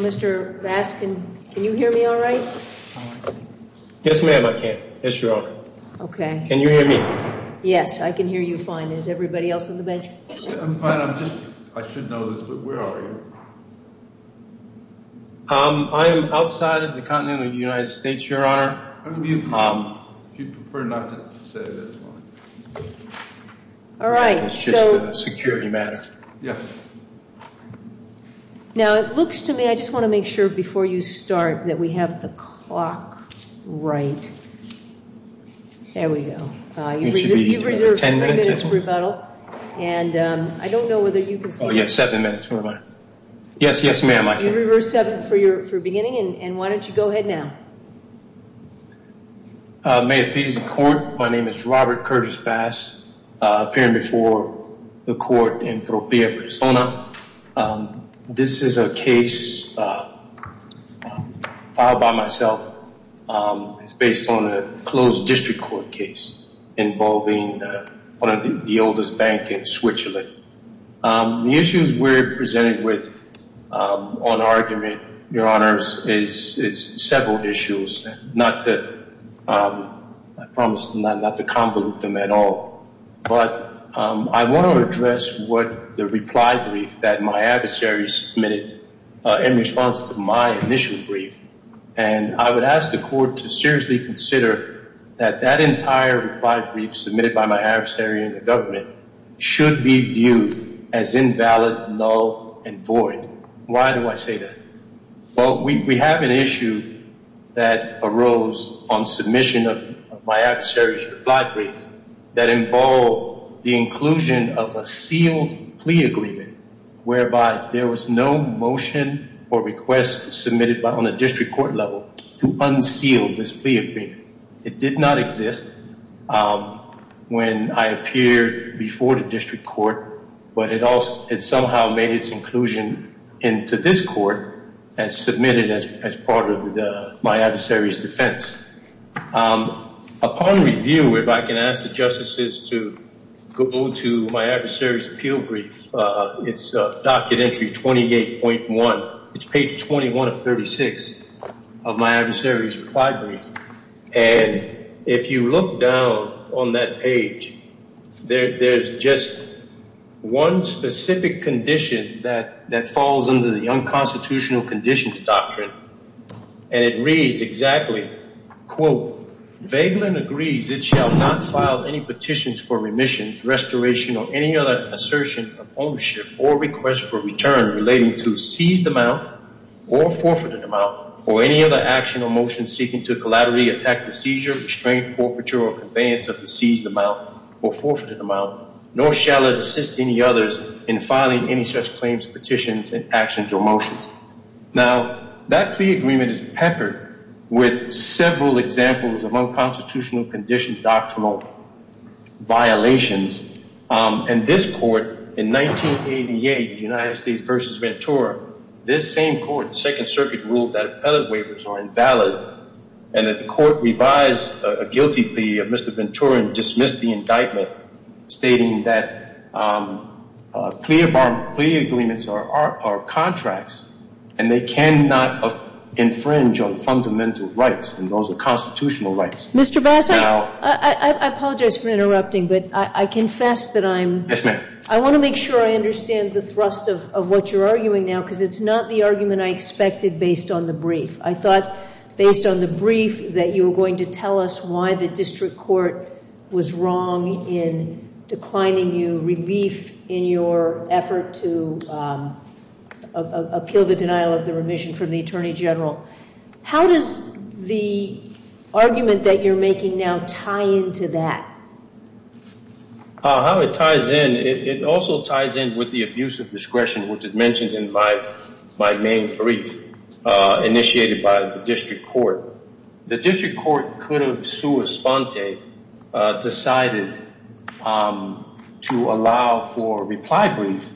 Mr. Bass, can you hear me all right? Yes, ma'am, I can. Yes, ma'am. Can you hear me? Yes, I can hear you fine. Is everybody else on the bench? I'm fine. I'm just I should know this, but where are you? I'm outside of the continent of the United States, your honor. You prefer not to say that. All right. So security matters. Yes. Now, it looks to me, I just want to make sure before you start that we have the clock right. There we go. And I don't know whether you can. Oh, yes. Seven minutes. Yes. Yes, ma'am. I can reverse seven for your for beginning. And why don't you go ahead now? May appease the court. My name is Robert Curtis Bass. Appearing before the court in proper persona. This is a case by myself. It's based on a closed district court case involving one of the oldest bank in Switzerland. The issues we're presented with on argument, your honors, is several issues. Not to promise not to convolute them at all. But I want to address what the reply brief that my adversaries submitted in response to my initial brief. And I would ask the court to seriously consider that that entire reply brief submitted by my adversary in the government should be viewed as invalid, null and void. Why do I say that? Well, we have an issue that arose on submission of my adversary's reply brief that involved the inclusion of a sealed plea agreement. Whereby there was no motion or request submitted on a district court level to unseal this plea agreement. It did not exist when I appeared before the district court. But it somehow made its inclusion into this court and submitted as part of my adversary's defense. Upon review, if I can ask the justices to go to my adversary's appeal brief. It's docket entry 28.1. It's page 21 of 36 of my adversary's reply brief. And if you look down on that page, there's just one specific condition that falls under the unconstitutional conditions doctrine. And it reads exactly, quote, Vagelin agrees it shall not file any petitions for remissions, restoration or any other assertion of ownership or request for return relating to seized amount or forfeited amount or any other action or motion seeking to collaterally attack the seizure, restraint, forfeiture or conveyance of the seized amount or forfeited amount. Nor shall it assist any others in filing any such claims, petitions and actions or motions. Now, that plea agreement is peppered with several examples of unconstitutional conditions doctrinal violations. And this court in 1988, the United States versus Ventura, this same court, the Second Circuit, ruled that appellate waivers are invalid. And that the court revised a guilty plea of Mr. Ventura and dismissed the indictment stating that plea agreements are contracts. And they cannot infringe on fundamental rights. And those are constitutional rights. Mr. Bass, I apologize for interrupting, but I confess that I'm. I want to make sure I understand the thrust of what you're arguing now because it's not the argument I expected based on the brief. I thought based on the brief that you were going to tell us why the district court was wrong in declining you relief in your effort to appeal the denial of the remission from the attorney general. How does the argument that you're making now tie into that? How it ties in, it also ties in with the abuse of discretion, which is mentioned in my main brief initiated by the district court. The district court could have sui sponte decided to allow for reply brief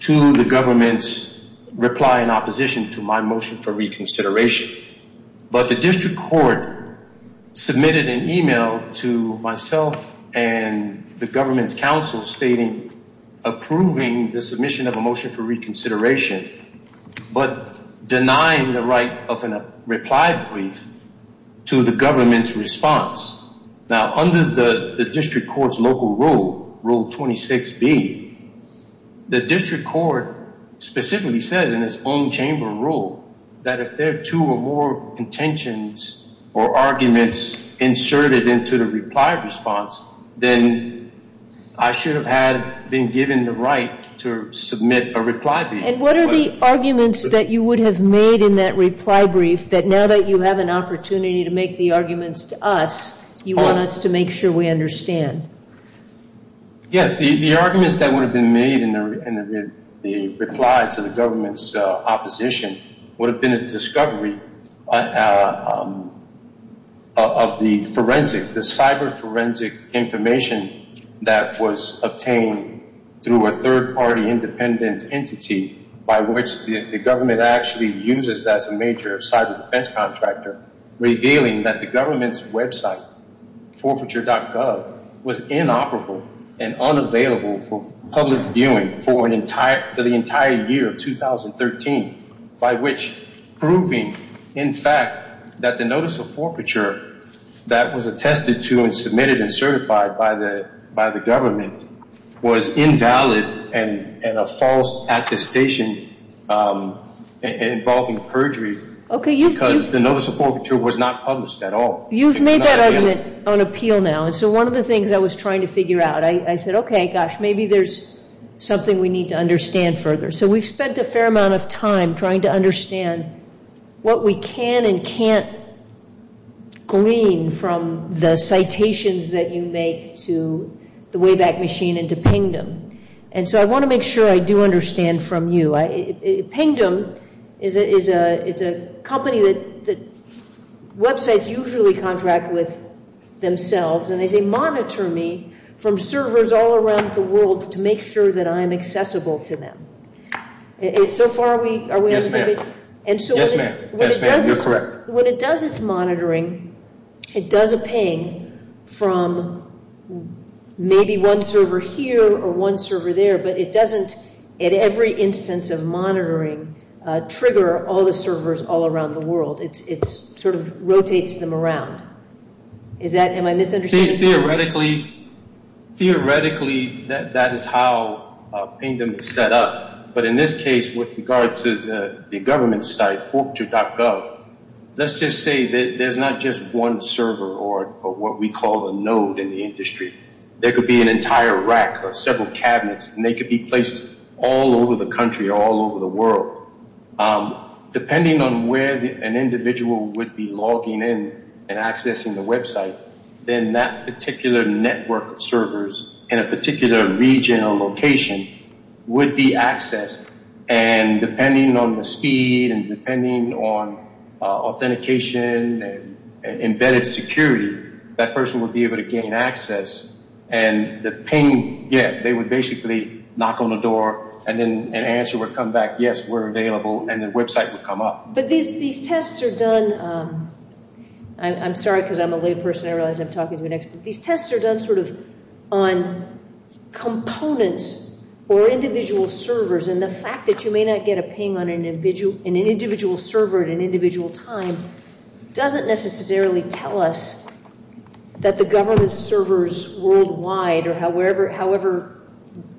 to the government's reply in opposition to my motion for reconsideration. But the district court submitted an email to myself and the government's counsel stating approving the submission of a motion for reconsideration. But denying the right of a reply brief to the government's response. Now, under the district court's local rule, rule 26B, the district court specifically says in its own chamber rule that if there are two or more contentions or arguments inserted into the reply response, then I should have had been given the right to submit a reply brief. And what are the arguments that you would have made in that reply brief that now that you have an opportunity to make the arguments to us, you want us to make sure we understand? Yes, the arguments that would have been made in the reply to the government's opposition would have been a discovery of the forensic, the cyber forensic information that was obtained through a third party independent entity by which the government actually uses as a major cyber defense contractor, revealing that the government's website, forfeiture.gov, was inoperable and unavailable for public viewing for the entire year of 2013. By which, proving, in fact, that the notice of forfeiture that was attested to and submitted and certified by the government was invalid and a false attestation involving perjury because the notice of forfeiture was not published at all. You've made that argument on appeal now. And so one of the things I was trying to figure out, I said, okay, gosh, maybe there's something we need to understand further. So we've spent a fair amount of time trying to understand what we can and can't glean from the citations that you make to the Wayback Machine and to Pingdom. And so I want to make sure I do understand from you. Pingdom is a company that websites usually contract with themselves. And they say, monitor me from servers all around the world to make sure that I am accessible to them. So far, are we understanding? Yes, ma'am. You're correct. When it does its monitoring, it does a ping from maybe one server here or one server there. But it doesn't, at every instance of monitoring, trigger all the servers all around the world. It sort of rotates them around. Am I misunderstanding? Theoretically, that is how Pingdom is set up. But in this case, with regard to the government site, forfeiture.gov, let's just say that there's not just one server or what we call a node in the industry. There could be an entire rack or several cabinets, and they could be placed all over the country or all over the world. Depending on where an individual would be logging in and accessing the website, then that particular network of servers in a particular region or location would be accessed. And depending on the speed and depending on authentication and embedded security, that person would be able to gain access. And the ping, yeah, they would basically knock on the door, and then an answer would come back, yes, we're available, and the website would come up. But these tests are done – I'm sorry because I'm a late person. I realize I'm talking to an expert. These tests are done sort of on components or individual servers, and the fact that you may not get a ping on an individual server at an individual time doesn't necessarily tell us that the government servers worldwide, or however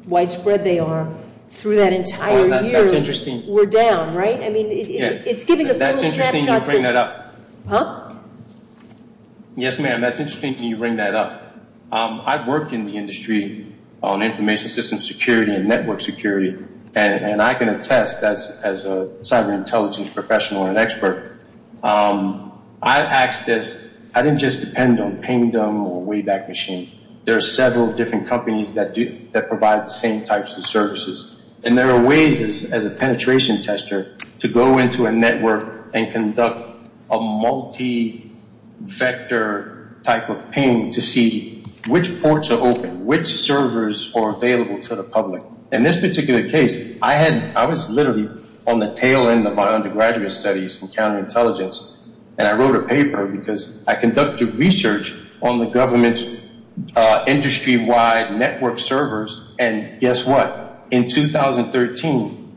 widespread they are, through that entire year were down, right? I mean, it's giving us little snapshots. That's interesting that you bring that up. Huh? Yes, ma'am, that's interesting that you bring that up. I've worked in the industry on information systems security and network security, and I can attest as a cyber intelligence professional and expert, I've asked this. I didn't just depend on Pingdom or Wayback Machine. There are several different companies that provide the same types of services, and there are ways as a penetration tester to go into a network and conduct a multi-vector type of ping to see which ports are open, which servers are available to the public. In this particular case, I was literally on the tail end of my undergraduate studies in counterintelligence, and I wrote a paper because I conducted research on the government's industry-wide network servers, and guess what? In 2013,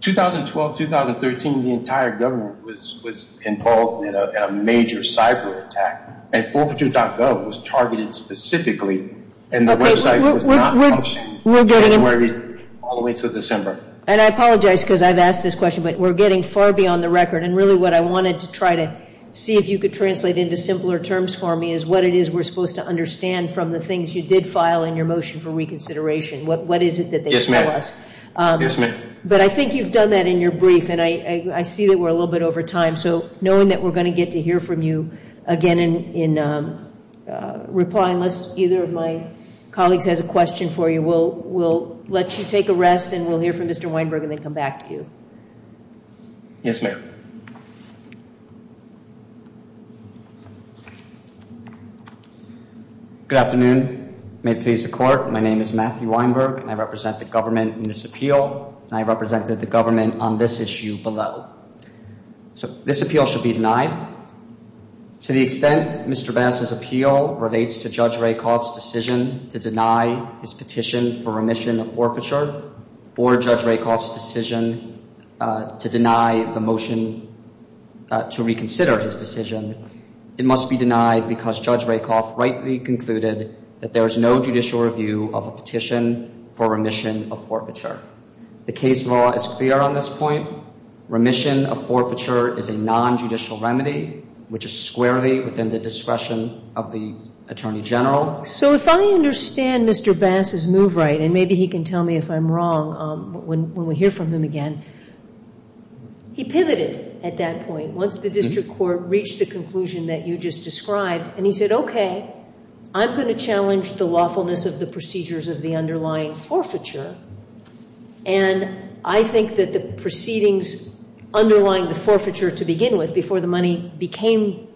2012, 2013, the entire government was involved in a major cyber attack, and forfeiture.gov was targeted specifically, and the website was not functioning. All the way until December. And I apologize because I've asked this question, but we're getting far beyond the record, and really what I wanted to try to see if you could translate into simpler terms for me is what it is we're supposed to understand from the things you did file in your motion for reconsideration. What is it that they tell us? Yes, ma'am. But I think you've done that in your brief, and I see that we're a little bit over time, so knowing that we're going to get to hear from you again in reply, unless either of my colleagues has a question for you, we'll let you take a rest, and we'll hear from Mr. Weinberg and then come back to you. Yes, ma'am. Good afternoon. May it please the Court, my name is Matthew Weinberg, and I represent the government in this appeal, and I represented the government on this issue below. So this appeal should be denied. To the extent Mr. Bass's appeal relates to Judge Rakoff's decision to deny his petition for remission of forfeiture, or Judge Rakoff's decision to deny the motion to reconsider his decision, it must be denied because Judge Rakoff rightly concluded that there is no judicial review of a petition for remission of forfeiture. The case law is clear on this point. Remission of forfeiture is a non-judicial remedy, which is squarely within the discretion of the Attorney General. So if I understand Mr. Bass's move right, and maybe he can tell me if I'm wrong when we hear from him again, he pivoted at that point, once the district court reached the conclusion that you just described, and he said, okay, I'm going to challenge the lawfulness of the procedures of the underlying forfeiture, and I think that the proceedings underlying the forfeiture to begin with, before the money became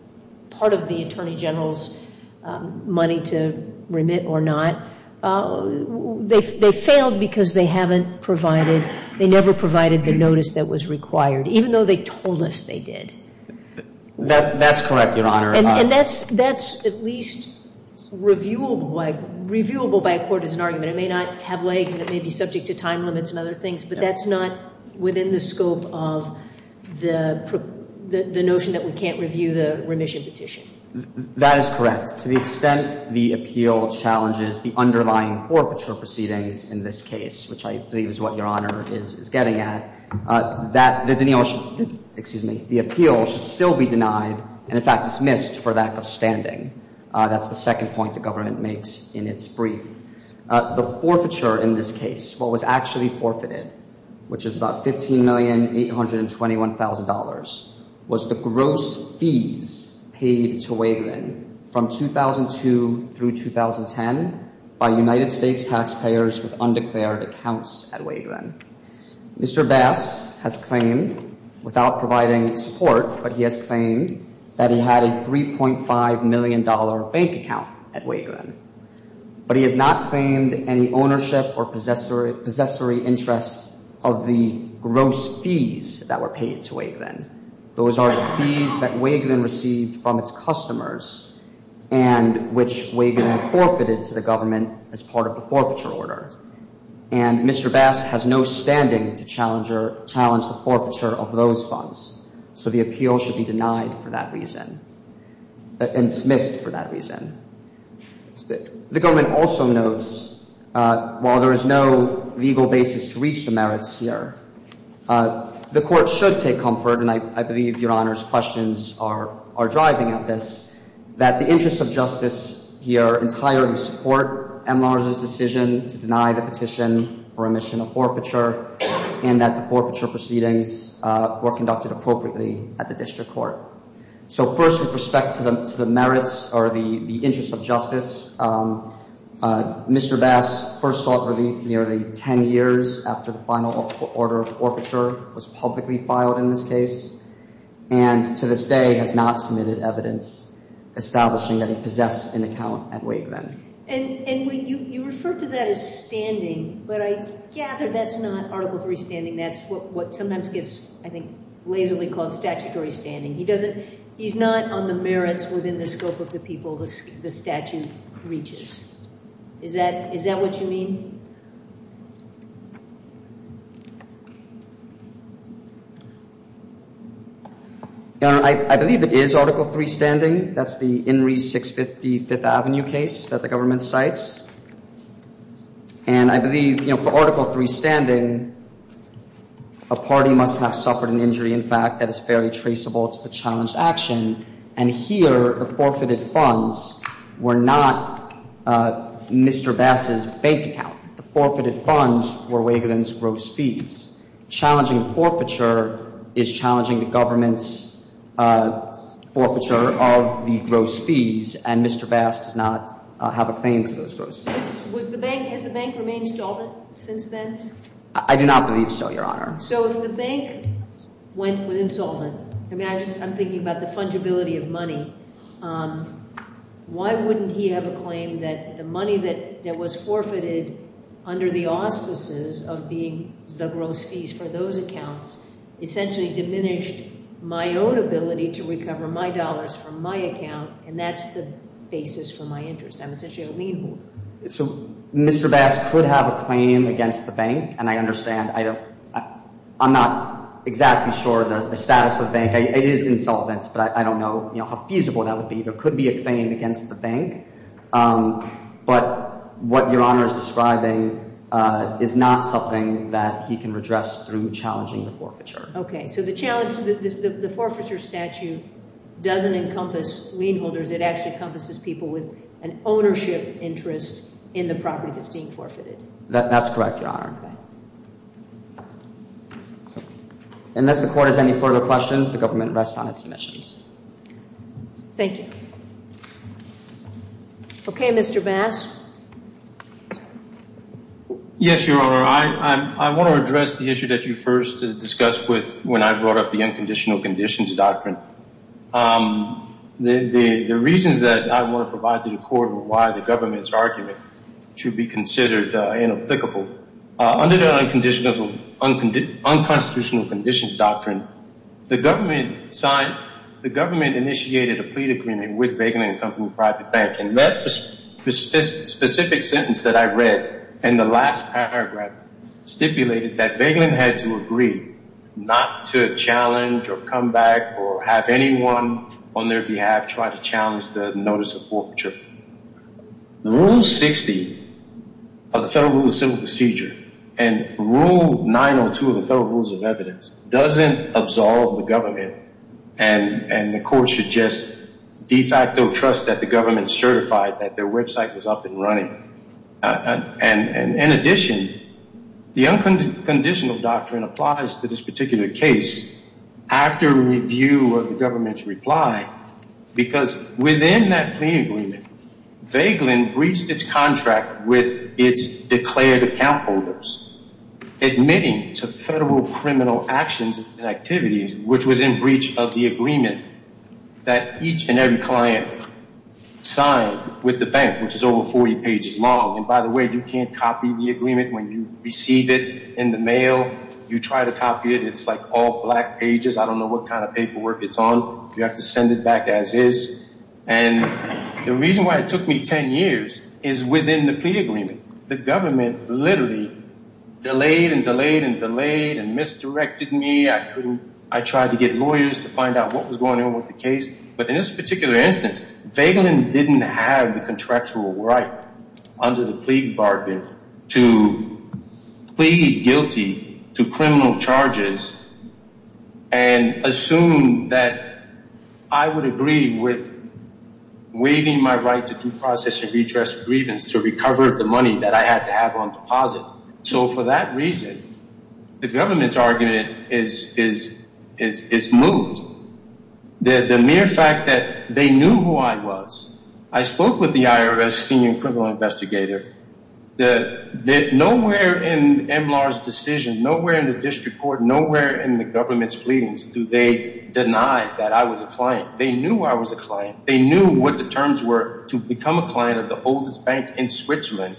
part of the Attorney General's money to remit or not, they failed because they haven't provided, they never provided the notice that was required, even though they told us they did. That's correct, Your Honor. And that's at least reviewable by a court as an argument. It may not have legs, and it may be subject to time limits and other things, but that's not within the scope of the notion that we can't review the remission petition. That is correct. To the extent the appeal challenges the underlying forfeiture proceedings in this case, which I believe is what Your Honor is getting at, the appeal should still be denied, and in fact dismissed, for lack of standing. That's the second point the government makes in its brief. The forfeiture in this case, what was actually forfeited, which is about $15,821,000, was the gross fees paid to Waveland from 2002 through 2010 by United States taxpayers with undeclared accounts at Waveland. Mr. Bass has claimed, without providing support, but he has claimed that he had a $3.5 million bank account at Waveland. But he has not claimed any ownership or possessory interest of the gross fees that were paid to Waveland. Those are the fees that Waveland received from its customers and which Waveland forfeited to the government as part of the forfeiture order. And Mr. Bass has no standing to challenge the forfeiture of those funds. So the appeal should be denied for that reason, and dismissed for that reason. The government also notes, while there is no legal basis to reach the merits here, the court should take comfort, and I believe Your Honor's questions are driving at this, that the interests of justice here entirely support M. Larsen's decision to deny the petition for omission of forfeiture and that the forfeiture proceedings were conducted appropriately at the district court. So first, with respect to the merits or the interests of justice, Mr. Bass first sought relief nearly 10 years after the final order of forfeiture was publicly filed in this case and to this day has not submitted evidence establishing that he possessed an account at Waveland. And you referred to that as standing, but I gather that's not Article III standing. That's what sometimes gets, I think, lazily called statutory standing. He doesn't, he's not on the merits within the scope of the people the statute reaches. Is that, is that what you mean? Your Honor, I believe it is Article III standing. That's the Henry 655th Avenue case that the government cites. And I believe, you know, for Article III standing, a party must have suffered an injury. In fact, that is fairly traceable to the challenged action. And here, the forfeited funds were not Mr. Bass's bank account. The forfeited funds were Waveland's gross fees. Challenging forfeiture is challenging the government's forfeiture of the gross fees, and Mr. Bass does not have a claim to those gross fees. Has the bank remained solvent since then? I do not believe so, Your Honor. So if the bank went, was insolvent, I mean, I just, I'm thinking about the fungibility of money. Why wouldn't he have a claim that the money that was forfeited under the auspices of being the gross fees for those accounts essentially diminished my own ability to recover my dollars from my account, and that's the basis for my interest. I'm essentially a lien holder. So Mr. Bass could have a claim against the bank, and I understand. I'm not exactly sure the status of the bank. It is insolvent, but I don't know, you know, how feasible that would be. There could be a claim against the bank. But what Your Honor is describing is not something that he can redress through challenging the forfeiture. Okay, so the challenge, the forfeiture statute doesn't encompass lien holders. It actually encompasses people with an ownership interest in the property that's being forfeited. That's correct, Your Honor. Unless the court has any further questions, the government rests on its submissions. Thank you. Okay, Mr. Bass. Yes, Your Honor. I want to address the issue that you first discussed with when I brought up the unconditional conditions doctrine. The reasons that I want to provide to the court are why the government's argument should be considered inapplicable. Under the unconstitutional conditions doctrine, the government signed, the government initiated a plea agreement with Begelin and Company Private Bank, and that specific sentence that I read in the last paragraph stipulated that Begelin had to agree not to challenge or come back or have anyone on their behalf try to challenge the notice of forfeiture. Rule 60 of the Federal Rule of Civil Procedure and Rule 902 of the Federal Rules of Evidence doesn't absolve the government, and the court should just de facto trust that the government certified that their website was up and running. In addition, the unconditional doctrine applies to this particular case after review of the government's reply, because within that plea agreement, Begelin breached its contract with its declared account holders, admitting to federal criminal actions and activities, which was in breach of the agreement that each and every client signed with the bank, which is over 40 pages long. And by the way, you can't copy the agreement. When you receive it in the mail, you try to copy it. It's like all black pages. I don't know what kind of paperwork it's on. You have to send it back as is. And the reason why it took me 10 years is within the plea agreement. The government literally delayed and delayed and delayed and misdirected me. I tried to get lawyers to find out what was going on with the case. But in this particular instance, Begelin didn't have the contractual right under the plea bargain to plead guilty to criminal charges and assume that I would agree with waiving my right to due process and redress grievance to recover the money that I had to have on deposit. So for that reason, the government's argument is moved. The mere fact that they knew who I was. I spoke with the IRS senior criminal investigator. Nowhere in MLAR's decision, nowhere in the district court, nowhere in the government's pleadings do they deny that I was a client. They knew I was a client. They knew what the terms were to become a client of the oldest bank in Switzerland.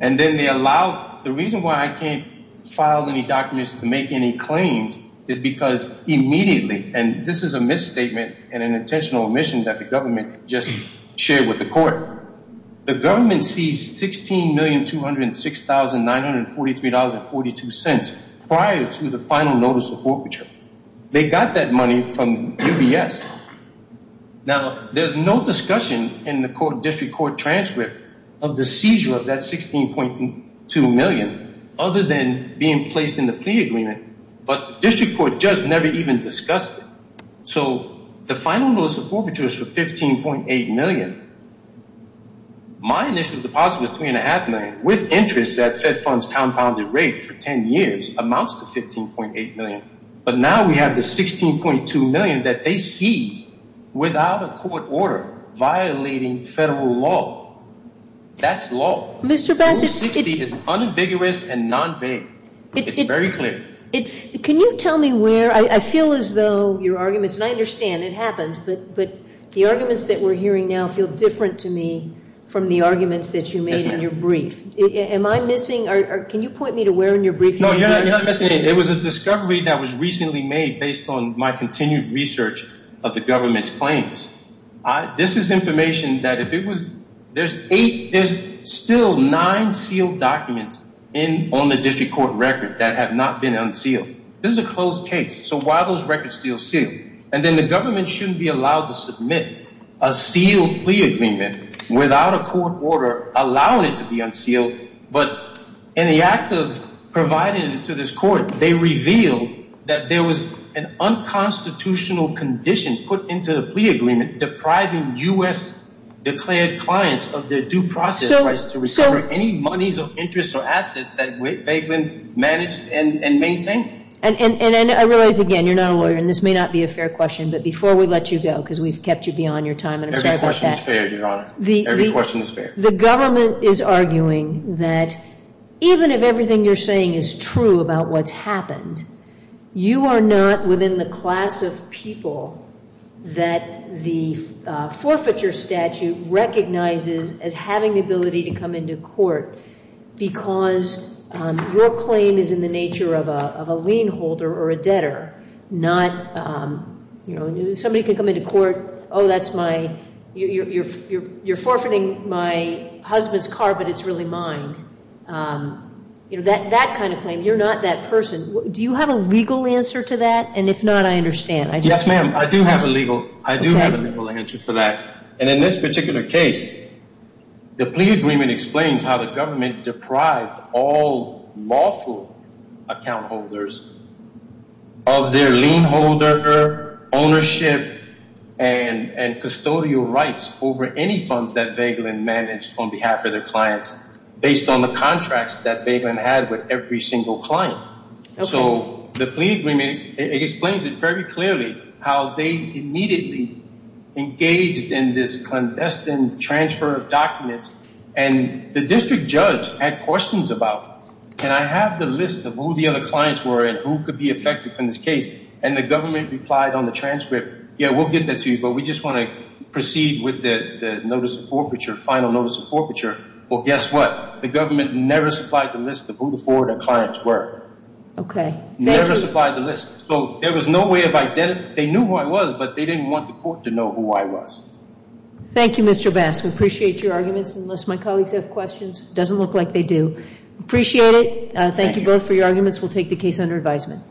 And then they allowed, the reason why I can't file any documents to make any claims is because immediately, and this is a misstatement and an intentional omission that the government just shared with the court. The government seized $16,206,943.42 prior to the final notice of forfeiture. They got that money from UBS. Now, there's no discussion in the district court transcript of the seizure of that $16.2 million other than being placed in the plea agreement. But the district court just never even discussed it. So the final notice of forfeiture is for $15.8 million. My initial deposit was $3.5 million with interest at Fed Fund's compounded rate for 10 years amounts to $15.8 million. But now we have the $16.2 million that they seized without a court order violating federal law. That's law. $160 is unambiguous and non-vague. It's very clear. Can you tell me where, I feel as though your arguments, and I understand it happens, but the arguments that we're hearing now feel different to me from the arguments that you made in your brief. Am I missing, or can you point me to where in your brief you were missing? No, you're not missing anything. It was a discovery that was recently made based on my continued research of the government's claims. This is information that if it was, there's still nine sealed documents on the district court record that have not been unsealed. This is a closed case. So why are those records still sealed? And then the government shouldn't be allowed to submit a sealed plea agreement without a court order allowing it to be unsealed. But in the act of providing it to this court, they revealed that there was an unconstitutional condition put into the plea agreement depriving U.S. declared clients of their due process rights to recover any monies of interest or assets that they've managed and maintained. And I realize, again, you're not a lawyer, and this may not be a fair question, but before we let you go, because we've kept you beyond your time, and I'm sorry about that. Every question is fair, Your Honor. Every question is fair. The government is arguing that even if everything you're saying is true about what's happened, you are not within the class of people that the forfeiture statute recognizes as having the ability to come into court because your claim is in the nature of a lien holder or a debtor, not, you know, somebody could come into court, oh, that's my – you're forfeiting my husband's car, but it's really mine. You know, that kind of claim. You're not that person. Do you have a legal answer to that? And if not, I understand. Yes, ma'am. I do have a legal answer for that. And in this particular case, the plea agreement explains how the government deprived all lawful account holders of their lien holder, ownership, and custodial rights over any funds that Vagelin managed on behalf of their clients based on the contracts that Vagelin had with every single client. So the plea agreement, it explains it very clearly how they immediately engaged in this clandestine transfer of documents, and the district judge had questions about, and I have the list of who the other clients were and who could be affected from this case, and the government replied on the transcript, yeah, we'll get that to you, but we just want to proceed with the notice of forfeiture, final notice of forfeiture. Well, guess what? The government never supplied the list of who the four of their clients were. Okay. Never supplied the list. So there was no way of identifying. They knew who I was, but they didn't want the court to know who I was. Thank you, Mr. Bass. We appreciate your arguments. Unless my colleagues have questions, it doesn't look like they do. Appreciate it. Thank you both for your arguments. We'll take the case under advisement.